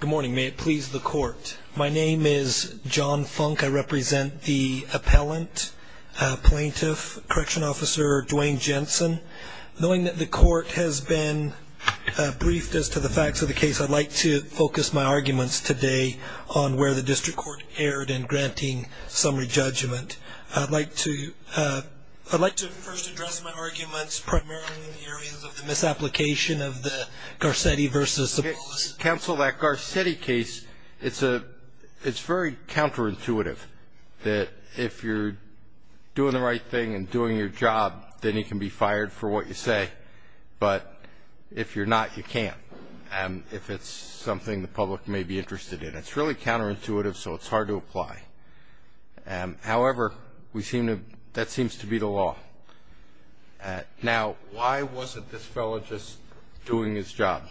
Good morning. May it please the court. My name is John Funk. I represent the appellant, plaintiff, correction officer Duane Jensen. Knowing that the court has been briefed as to the facts of the case, I'd like to focus my arguments today on where the district court erred in granting summary judgment. I'd like to first address my arguments primarily in the areas of the misapplication of the Garcetti v. Zappos. Let's cancel that Garcetti case. It's very counterintuitive that if you're doing the right thing and doing your job, then you can be fired for what you say, but if you're not, you can't. If it's something the public may be interested in, it's really counterintuitive, so it's hard to apply. However, that seems to be the law. Now, why wasn't this fellow just doing his job?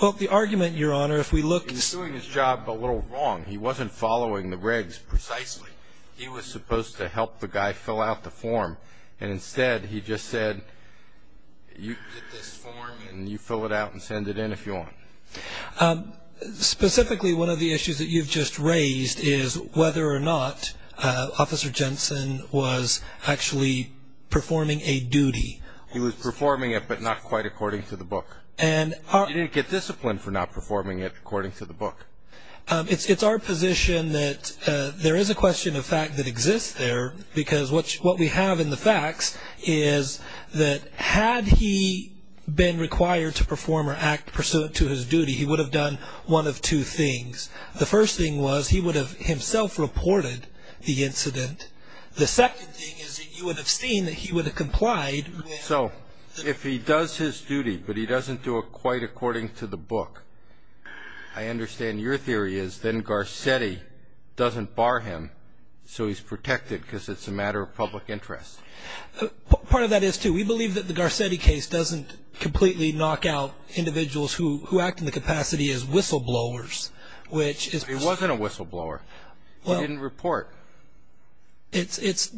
Well, the argument, Your Honor, if we look- He was doing his job, but a little wrong. He wasn't following the regs precisely. He was supposed to help the guy fill out the form, and instead he just said, you get this form and you fill it out and send it in if you want. Specifically, one of the issues that you've just raised is whether or not Officer Jensen was actually performing a duty. He was performing it, but not quite according to the book. You didn't get discipline for not performing it according to the book. It's our position that there is a question of fact that exists there, because what we have in the facts is that had he been required to perform or act pursuant to his duty, he would have done one of two things. The first thing was he would have himself reported the incident. The second thing is that you would have seen that he would have complied. So if he does his duty, but he doesn't do it quite according to the book, I understand your theory is then Garcetti doesn't bar him, so he's protected because it's a matter of public interest. Part of that is, too, we believe that the Garcetti case doesn't completely knock out individuals who act in the capacity as whistleblowers, which is- He wasn't a whistleblower. He didn't report. It's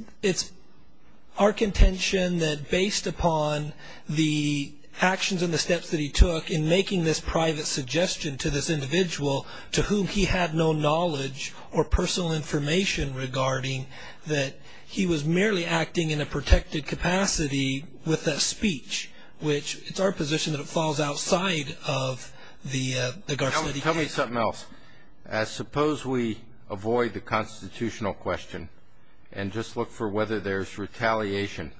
our contention that based upon the actions and the steps that he took in making this private suggestion to this individual to whom he had no knowledge or personal information regarding that he was merely acting in a protected capacity with a speech, which it's our position that it falls outside of the Garcetti case. Tell me something else. Suppose we avoid the constitutional question and just look for whether there's retaliation.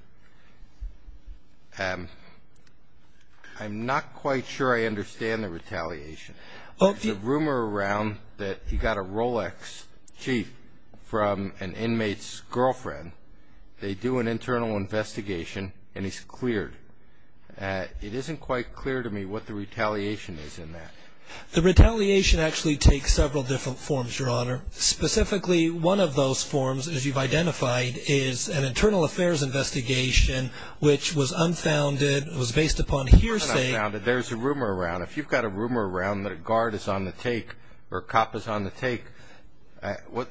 I'm not quite sure I understand the retaliation. There's a rumor around that he got a Rolex Jeep from an inmate's girlfriend. They do an internal investigation, and he's cleared. It isn't quite clear to me what the retaliation is in that. The retaliation actually takes several different forms, Your Honor. Specifically, one of those forms, as you've identified, is an internal affairs investigation, which was unfounded, was based upon hearsay. It's not unfounded. There's a rumor around. If you've got a rumor around that a guard is on the take or a cop is on the take,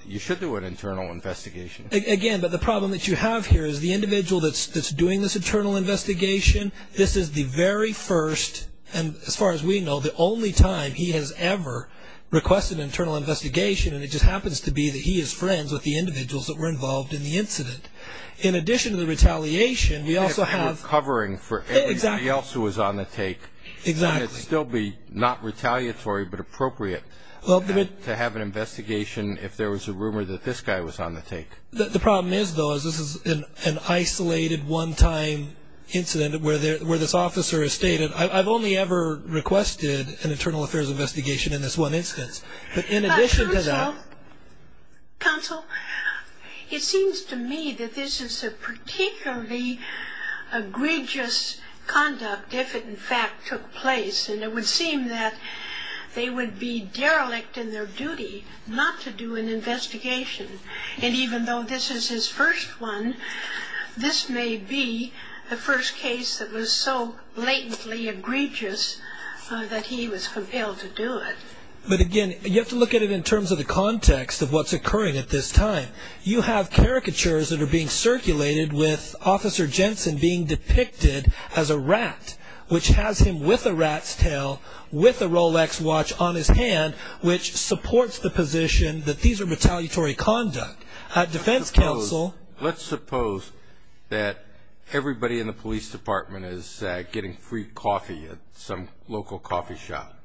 you should do an internal investigation. Again, but the problem that you have here is the individual that's doing this internal investigation, this is the very first and, as far as we know, the only time he has ever requested an internal investigation, and it just happens to be that he is friends with the individuals that were involved in the incident. In addition to the retaliation, we also have- If we're covering for everybody else who was on the take, wouldn't it still be not retaliatory but appropriate to have an investigation if there was a rumor that this guy was on the take? The problem is, though, is this is an isolated, one-time incident where this officer has stated, I've only ever requested an internal affairs investigation in this one instance, but in addition to that- Counsel, it seems to me that this is a particularly egregious conduct if it, in fact, took place, and it would seem that they would be derelict in their duty not to do an investigation, and even though this is his first one, this may be the first case that was so blatantly egregious that he was compelled to do it. But again, you have to look at it in terms of the context of what's occurring at this time. You have caricatures that are being circulated with Officer Jensen being depicted as a rat, which has him with a rat's tail, with a Rolex watch on his hand, which supports the position that these are retaliatory conduct. Defense counsel- Let's suppose that everybody in the police department is getting free coffee at some local coffee shop.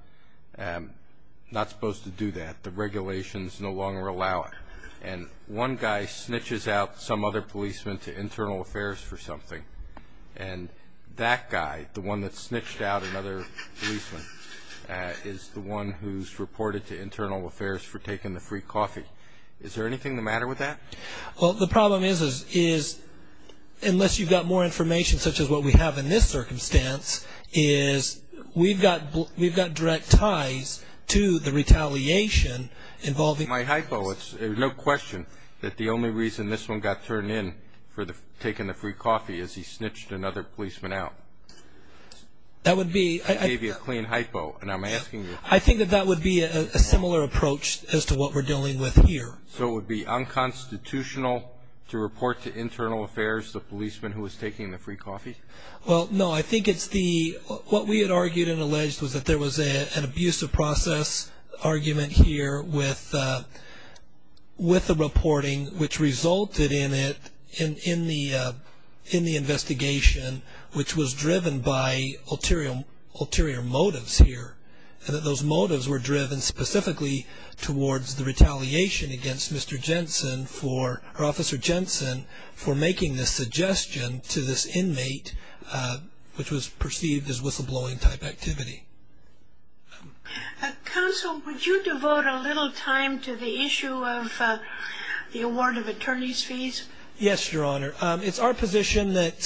Not supposed to do that. The regulations no longer allow it. And one guy snitches out some other policeman to internal affairs for something, and that guy, the one that snitched out another policeman, is the one who's reported to internal affairs for taking the free coffee. Is there anything the matter with that? Well, the problem is, unless you've got more information such as what we have in this circumstance, is we've got direct ties to the retaliation involving- My hypo, there's no question that the only reason this one got turned in for taking the free coffee is he snitched another policeman out. That would be- I gave you a clean hypo, and I'm asking you- I think that that would be a similar approach as to what we're dealing with here. So it would be unconstitutional to report to internal affairs the policeman who was taking the free coffee? Well, no, I think it's the- What we had argued and alleged was that there was an abusive process argument here with the reporting, which resulted in the investigation, which was driven by ulterior motives here, and that those motives were driven specifically towards the retaliation against Mr. Jensen, or Officer Jensen, for making this suggestion to this inmate, which was perceived as whistleblowing type activity. Counsel, would you devote a little time to the issue of the award of attorney's fees? Yes, Your Honor. It's our position that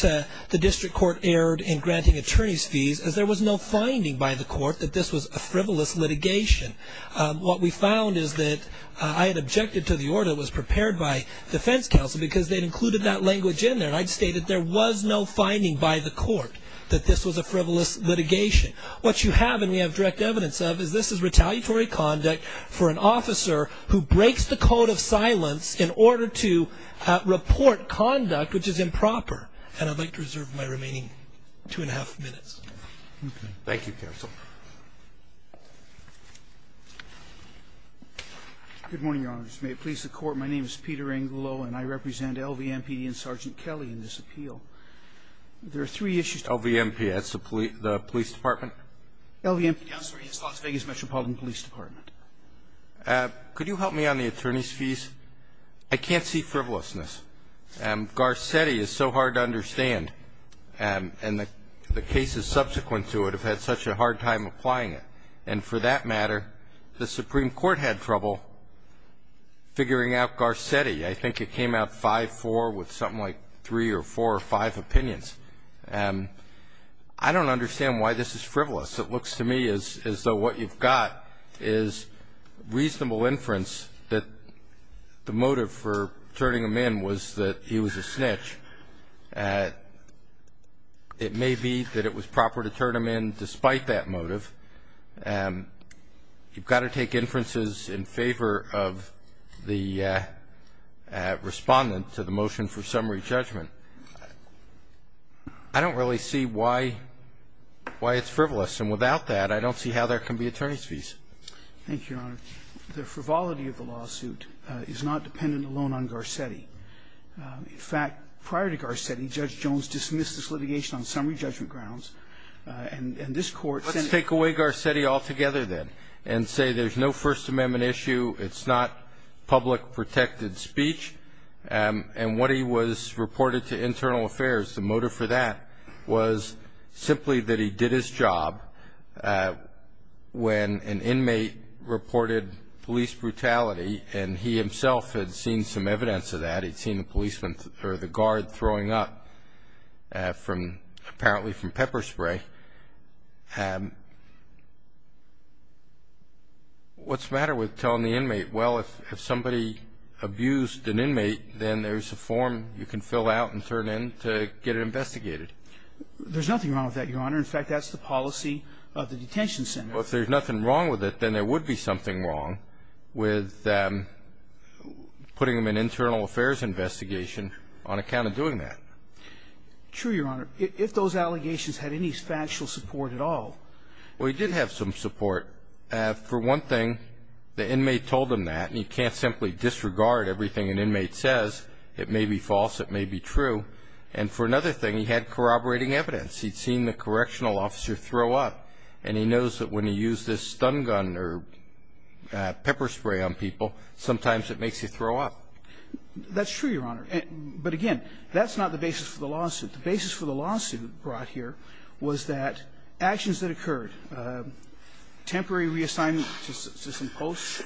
the district court erred in granting attorney's fees, as there was no finding by the court that this was a frivolous litigation. What we found is that I had objected to the order that was prepared by defense counsel because they'd included that language in there, and I'd stated there was no finding by the court that this was a frivolous litigation. What you have, and we have direct evidence of, is this is retaliatory conduct for an officer who breaks the code of silence in order to report conduct which is improper. And I'd like to reserve my remaining two and a half minutes. Okay. Thank you, counsel. Good morning, Your Honors. May it please the Court. My name is Peter Angulo, and I represent LVMP and Sergeant Kelly in this appeal. There are three issues. LVMP. That's the police department? LVMP, Counselor. Yes. Las Vegas Metropolitan Police Department. Could you help me on the attorney's fees? I can't see frivolousness. Garcetti is so hard to understand, and the cases subsequent to it have had such a hard time applying it. And for that matter, the Supreme Court had trouble figuring out Garcetti. I think it came out 5-4 with something like three or four or five opinions. I don't understand why this is frivolous. It looks to me as though what you've got is reasonable inference that the motive for turning him in was that he was a snitch. It may be that it was proper to turn him in despite that motive. You've got to take inferences in favor of the respondent to the motion for summary judgment. I don't really see why it's frivolous. And without that, I don't see how there can be attorney's fees. Thank you, Your Honor. The frivolity of the lawsuit is not dependent alone on Garcetti. In fact, prior to Garcetti, Judge Jones dismissed this litigation on summary judgment grounds. And this Court said that he was a snitch. Let's take away Garcetti altogether, then, and say there's no First Amendment issue. It's not public protected speech. And what he was reported to internal affairs, the motive for that was simply that he did his job when an inmate reported police brutality. And he himself had seen some evidence of that. He'd seen the policeman or the guard throwing up from apparently from pepper spray. And what's the matter with telling the inmate, well, if somebody abused an inmate, then there's a form you can fill out and turn in to get it investigated? There's nothing wrong with that, Your Honor. In fact, that's the policy of the detention center. Well, if there's nothing wrong with it, then there would be something wrong with putting him in internal affairs investigation on account of doing that. True, Your Honor. If those allegations had any factual support at all. Well, he did have some support. For one thing, the inmate told him that. And you can't simply disregard everything an inmate says. It may be false. It may be true. And for another thing, he had corroborating evidence. He'd seen the correctional officer throw up. And he knows that when you use this stun gun or pepper spray on people, sometimes it makes you throw up. That's true, Your Honor. But, again, that's not the basis for the lawsuit. The basis for the lawsuit brought here was that actions that occurred, temporary reassignment to some posts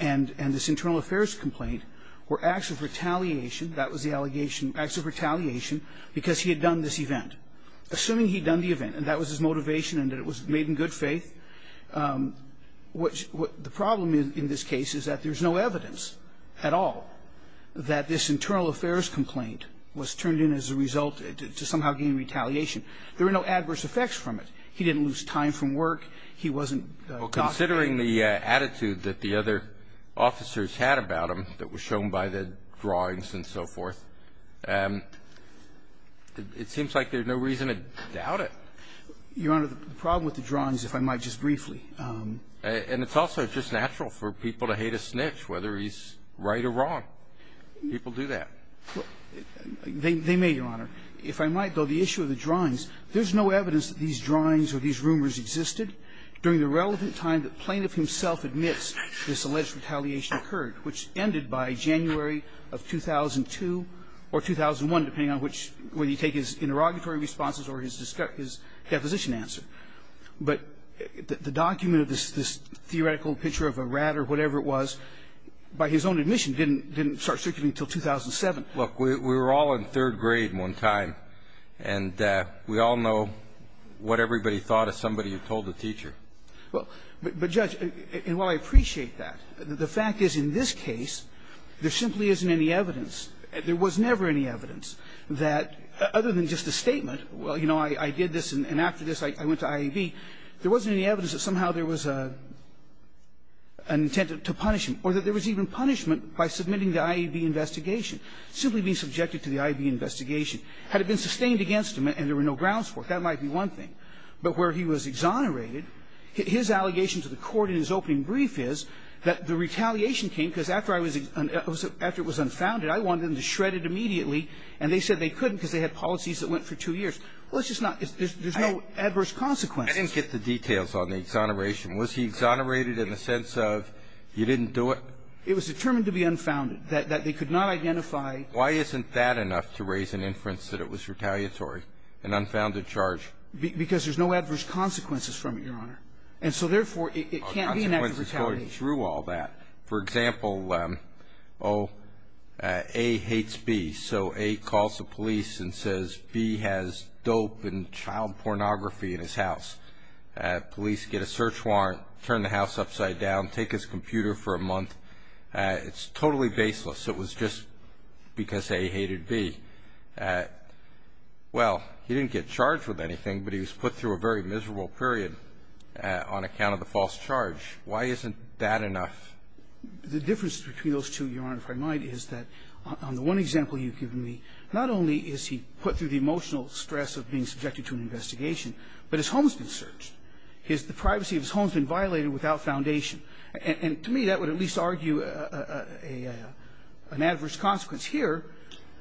and this internal affairs complaint were acts of retaliation. That was the allegation, acts of retaliation, because he had done this event. Assuming he'd done the event and that was his motivation and that it was made in good faith, what the problem in this case is that there's no evidence at all that this internal affairs complaint was turned in as a result to somehow gain retaliation. There were no adverse effects from it. He didn't lose time from work. He wasn't caught. Well, considering the attitude that the other officers had about him that was shown by the drawings and so forth, it seems like there's no reason to doubt it. Your Honor, the problem with the drawings, if I might just briefly. And it's also just natural for people to hate a snitch, whether he's right or wrong. People do that. They may, Your Honor. If I might, though, the issue of the drawings, there's no evidence that these drawings or these rumors existed during the relevant time the plaintiff himself admits this alleged retaliation occurred, which ended by January of 2002 or 2001, depending on whether you take his interrogatory responses or his deposition answer. But the document of this theoretical picture of a rat or whatever it was, by his own admission, didn't start circulating until 2007. Look, we were all in third grade at one time, and we all know what everybody thought of somebody who told the teacher. Well, but, Judge, and while I appreciate that, the fact is in this case there simply isn't any evidence. There was never any evidence that, other than just a statement, well, you know, I did this, and after this I went to IAB, there wasn't any evidence that somehow there was an intent to punish him, or that there was even punishment by submitting the IAB investigation, simply being subjected to the IAB investigation. Had it been sustained against him and there were no grounds for it, that might be one thing. But where he was exonerated, his allegation to the court in his opening brief is that the retaliation came because after I was exonerated, after it was unfounded, I wanted them to shred it immediately, and they said they couldn't because they had policies that went for two years. Well, it's just not – there's no adverse consequences. I didn't get the details on the exoneration. Was he exonerated in the sense of you didn't do it? It was determined to be unfounded, that they could not identify. Why isn't that enough to raise an inference that it was retaliatory, an unfounded charge? Because there's no adverse consequences from it, Your Honor. And so, therefore, it can't be an act of retaliation. He's going through all that. For example, A hates B. So A calls the police and says B has dope and child pornography in his house. Police get a search warrant, turn the house upside down, take his computer for a month. It's totally baseless. It was just because A hated B. Well, he didn't get charged with anything, but he was put through a very miserable period on account of the false charge. Why isn't that enough? The difference between those two, Your Honor, if I might, is that on the one example you've given me, not only is he put through the emotional stress of being subjected to an investigation, but his home has been searched. His – the privacy of his home has been violated without foundation. And to me, that would at least argue an adverse consequence. Here,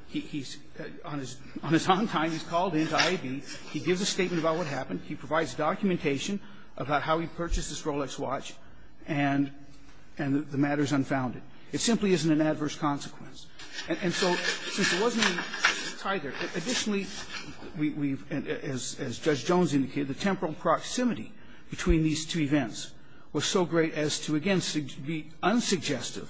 he's – on his own time, he's called in to IAB. He gives a statement about what happened. He provides documentation about how he purchased this Rolex watch, and the matter is unfounded. It simply isn't an adverse consequence. And so since there wasn't any tie there, additionally, we've – as Judge Jones indicated, the temporal proximity between these two events was so great as to, again, be unsuggestive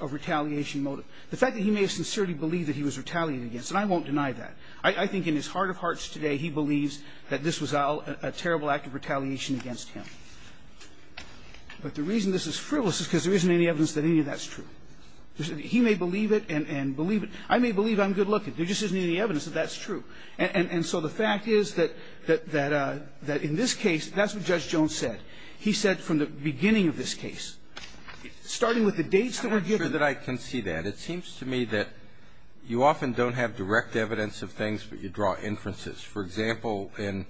of retaliation motive. The fact that he may have sincerely believed that he was retaliated against, and I won't deny that. I think in his heart of hearts today, he believes that this was all a terrible act of retaliation against him. But the reason this is frivolous is because there isn't any evidence that any of that's true. He may believe it and believe it. I may believe I'm good-looking. There just isn't any evidence that that's true. And so the fact is that in this case, that's what Judge Jones said. He said from the beginning of this case, starting with the dates that were given. I'm not sure that I can see that. It seems to me that you often don't have direct evidence of things, but you draw inferences. For example, in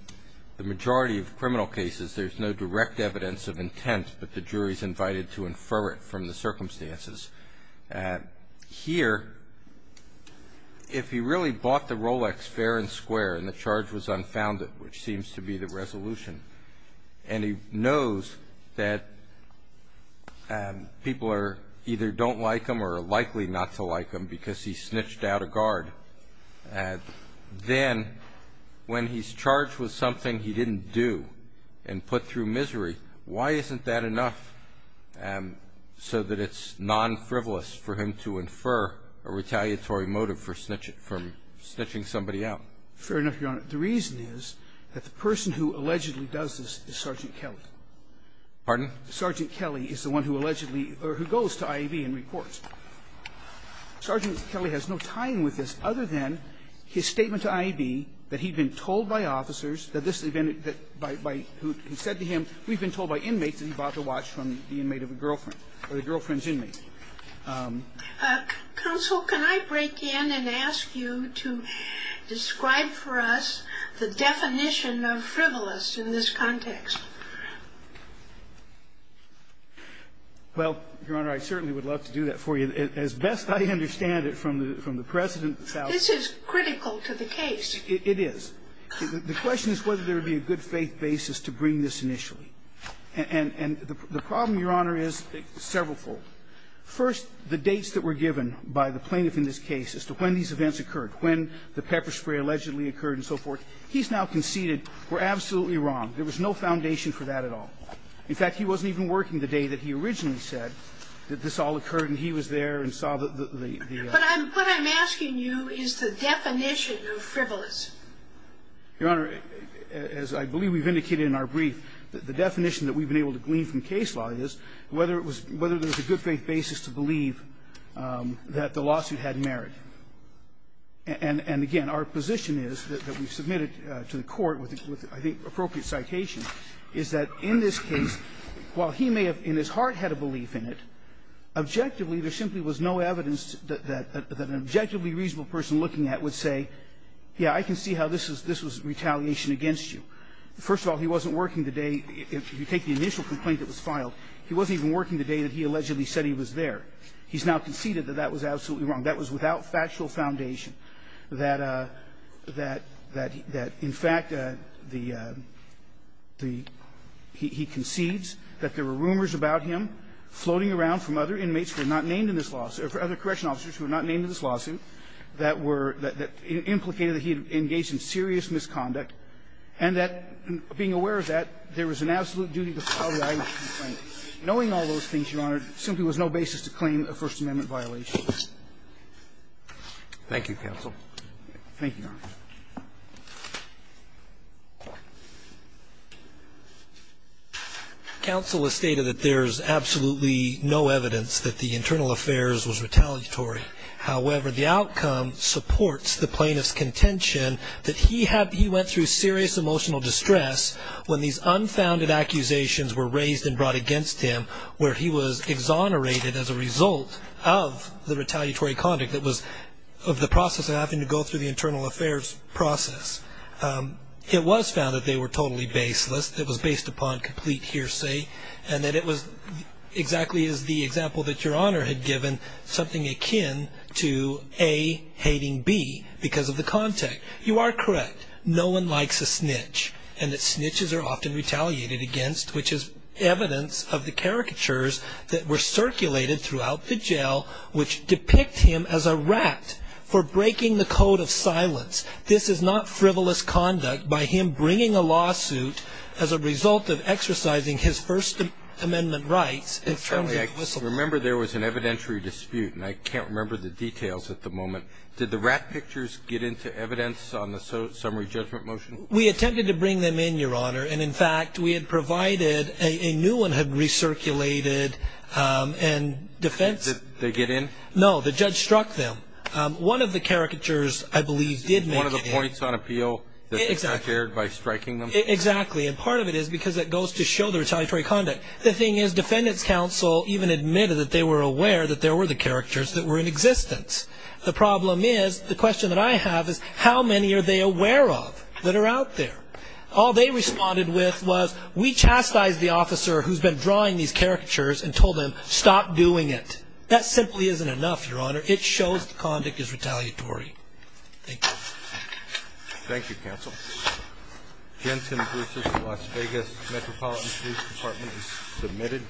the majority of criminal cases, there's no direct evidence of intent, but the jury's invited to infer it from the circumstances. Here, if he really bought the Rolex fair and square and the charge was unfounded, which seems to be the resolution, and he knows that people either don't like him or are likely not to like him because he snitched out a guard, then when he's charged with something he didn't do and put through misery, why isn't that enough so that it's nonfrivolous for him to infer a retaliatory motive for snitching somebody out? Fair enough, Your Honor. The reason is that the person who allegedly does this is Sergeant Kelly. Pardon? Sergeant Kelly is the one who allegedly or who goes to IAB and reports. Sergeant Kelly has no tying with this other than his statement to IAB that he'd been told by officers that this had been by who had said to him, we've been told by inmates that he bought the watch from the inmate of a girlfriend or the girlfriend's inmate. Counsel, can I break in and ask you to describe for us the definition of frivolous in this context? Well, Your Honor, I certainly would love to do that for you. As best I understand it from the precedent that's out there. This is critical to the case. It is. The question is whether there would be a good faith basis to bring this initially. And the problem, Your Honor, is severalfold. First, the dates that were given by the plaintiff in this case as to when these events occurred, when the pepper spray allegedly occurred and so forth, he's now conceded we're absolutely wrong. There was no foundation for that at all. In fact, he wasn't even working the day that he originally said that this all occurred and he was there and saw the ---- But what I'm asking you is the definition of frivolous. Your Honor, as I believe we've indicated in our brief, the definition that we've been able to glean from case law is whether there was a good faith basis to believe that the lawsuit had merit. And again, our position is that we submitted to the Court with, I think, appropriate citations, is that in this case, while he may have in his heart had a belief in it, objectively there simply was no evidence that an objectively reasonable person looking at it would say, yeah, I can see how this was retaliation against you. First of all, he wasn't working the day, if you take the initial complaint that was filed, he wasn't even working the day that he allegedly said he was there. He's now conceded that that was absolutely wrong. That was without factual foundation, that in fact the ---- he concedes that there were rumors about him floating around from other inmates who were not named in this lawsuit, or other correction officers who were not named in this lawsuit, that were implicated that he had engaged in serious misconduct, and that being aware of that, there was an absolute duty to file the item of complaint. Knowing all those things, Your Honor, there simply was no basis to claim a First Amendment violation. Roberts. Thank you, counsel. Thank you, Your Honor. Counsel has stated that there is absolutely no evidence that the internal affairs was retaliatory. However, the outcome supports the plaintiff's contention that he went through serious emotional distress when these unfounded accusations were raised and brought against him, where he was exonerated as a result of the retaliatory conduct that was of the process of having to go through the internal affairs process. It was found that they were totally baseless, that it was based upon complete hearsay, and that it was exactly as the example that Your Honor had given, something akin to A, hating B, because of the context. You are correct. No one likes a snitch, and that snitches are often retaliated against, which is evidence of the caricatures that were circulated throughout the jail, which depict him as a rat for breaking the code of silence. This is not frivolous conduct by him bringing a lawsuit as a result of exercising his First Amendment rights. I remember there was an evidentiary dispute, and I can't remember the details at the moment. Did the rat pictures get into evidence on the summary judgment motion? We attempted to bring them in, Your Honor, and, in fact, we had provided a new one had recirculated in defense. Did they get in? No. The judge struck them. One of the caricatures, I believe, did make it in. One of the points on appeal that the judge aired by striking them? Exactly. And part of it is because it goes to show the retaliatory conduct. The thing is, defendants' counsel even admitted that they were aware that there were the caricatures that were in existence. The problem is, the question that I have is, how many are they aware of that are out there? All they responded with was, we chastised the officer who's been drawing these caricatures and told them, stop doing it. That simply isn't enough, Your Honor. It shows the conduct is retaliatory. Thank you. Thank you, counsel. Jensen Brucer, Las Vegas Metropolitan Police Department, is submitted.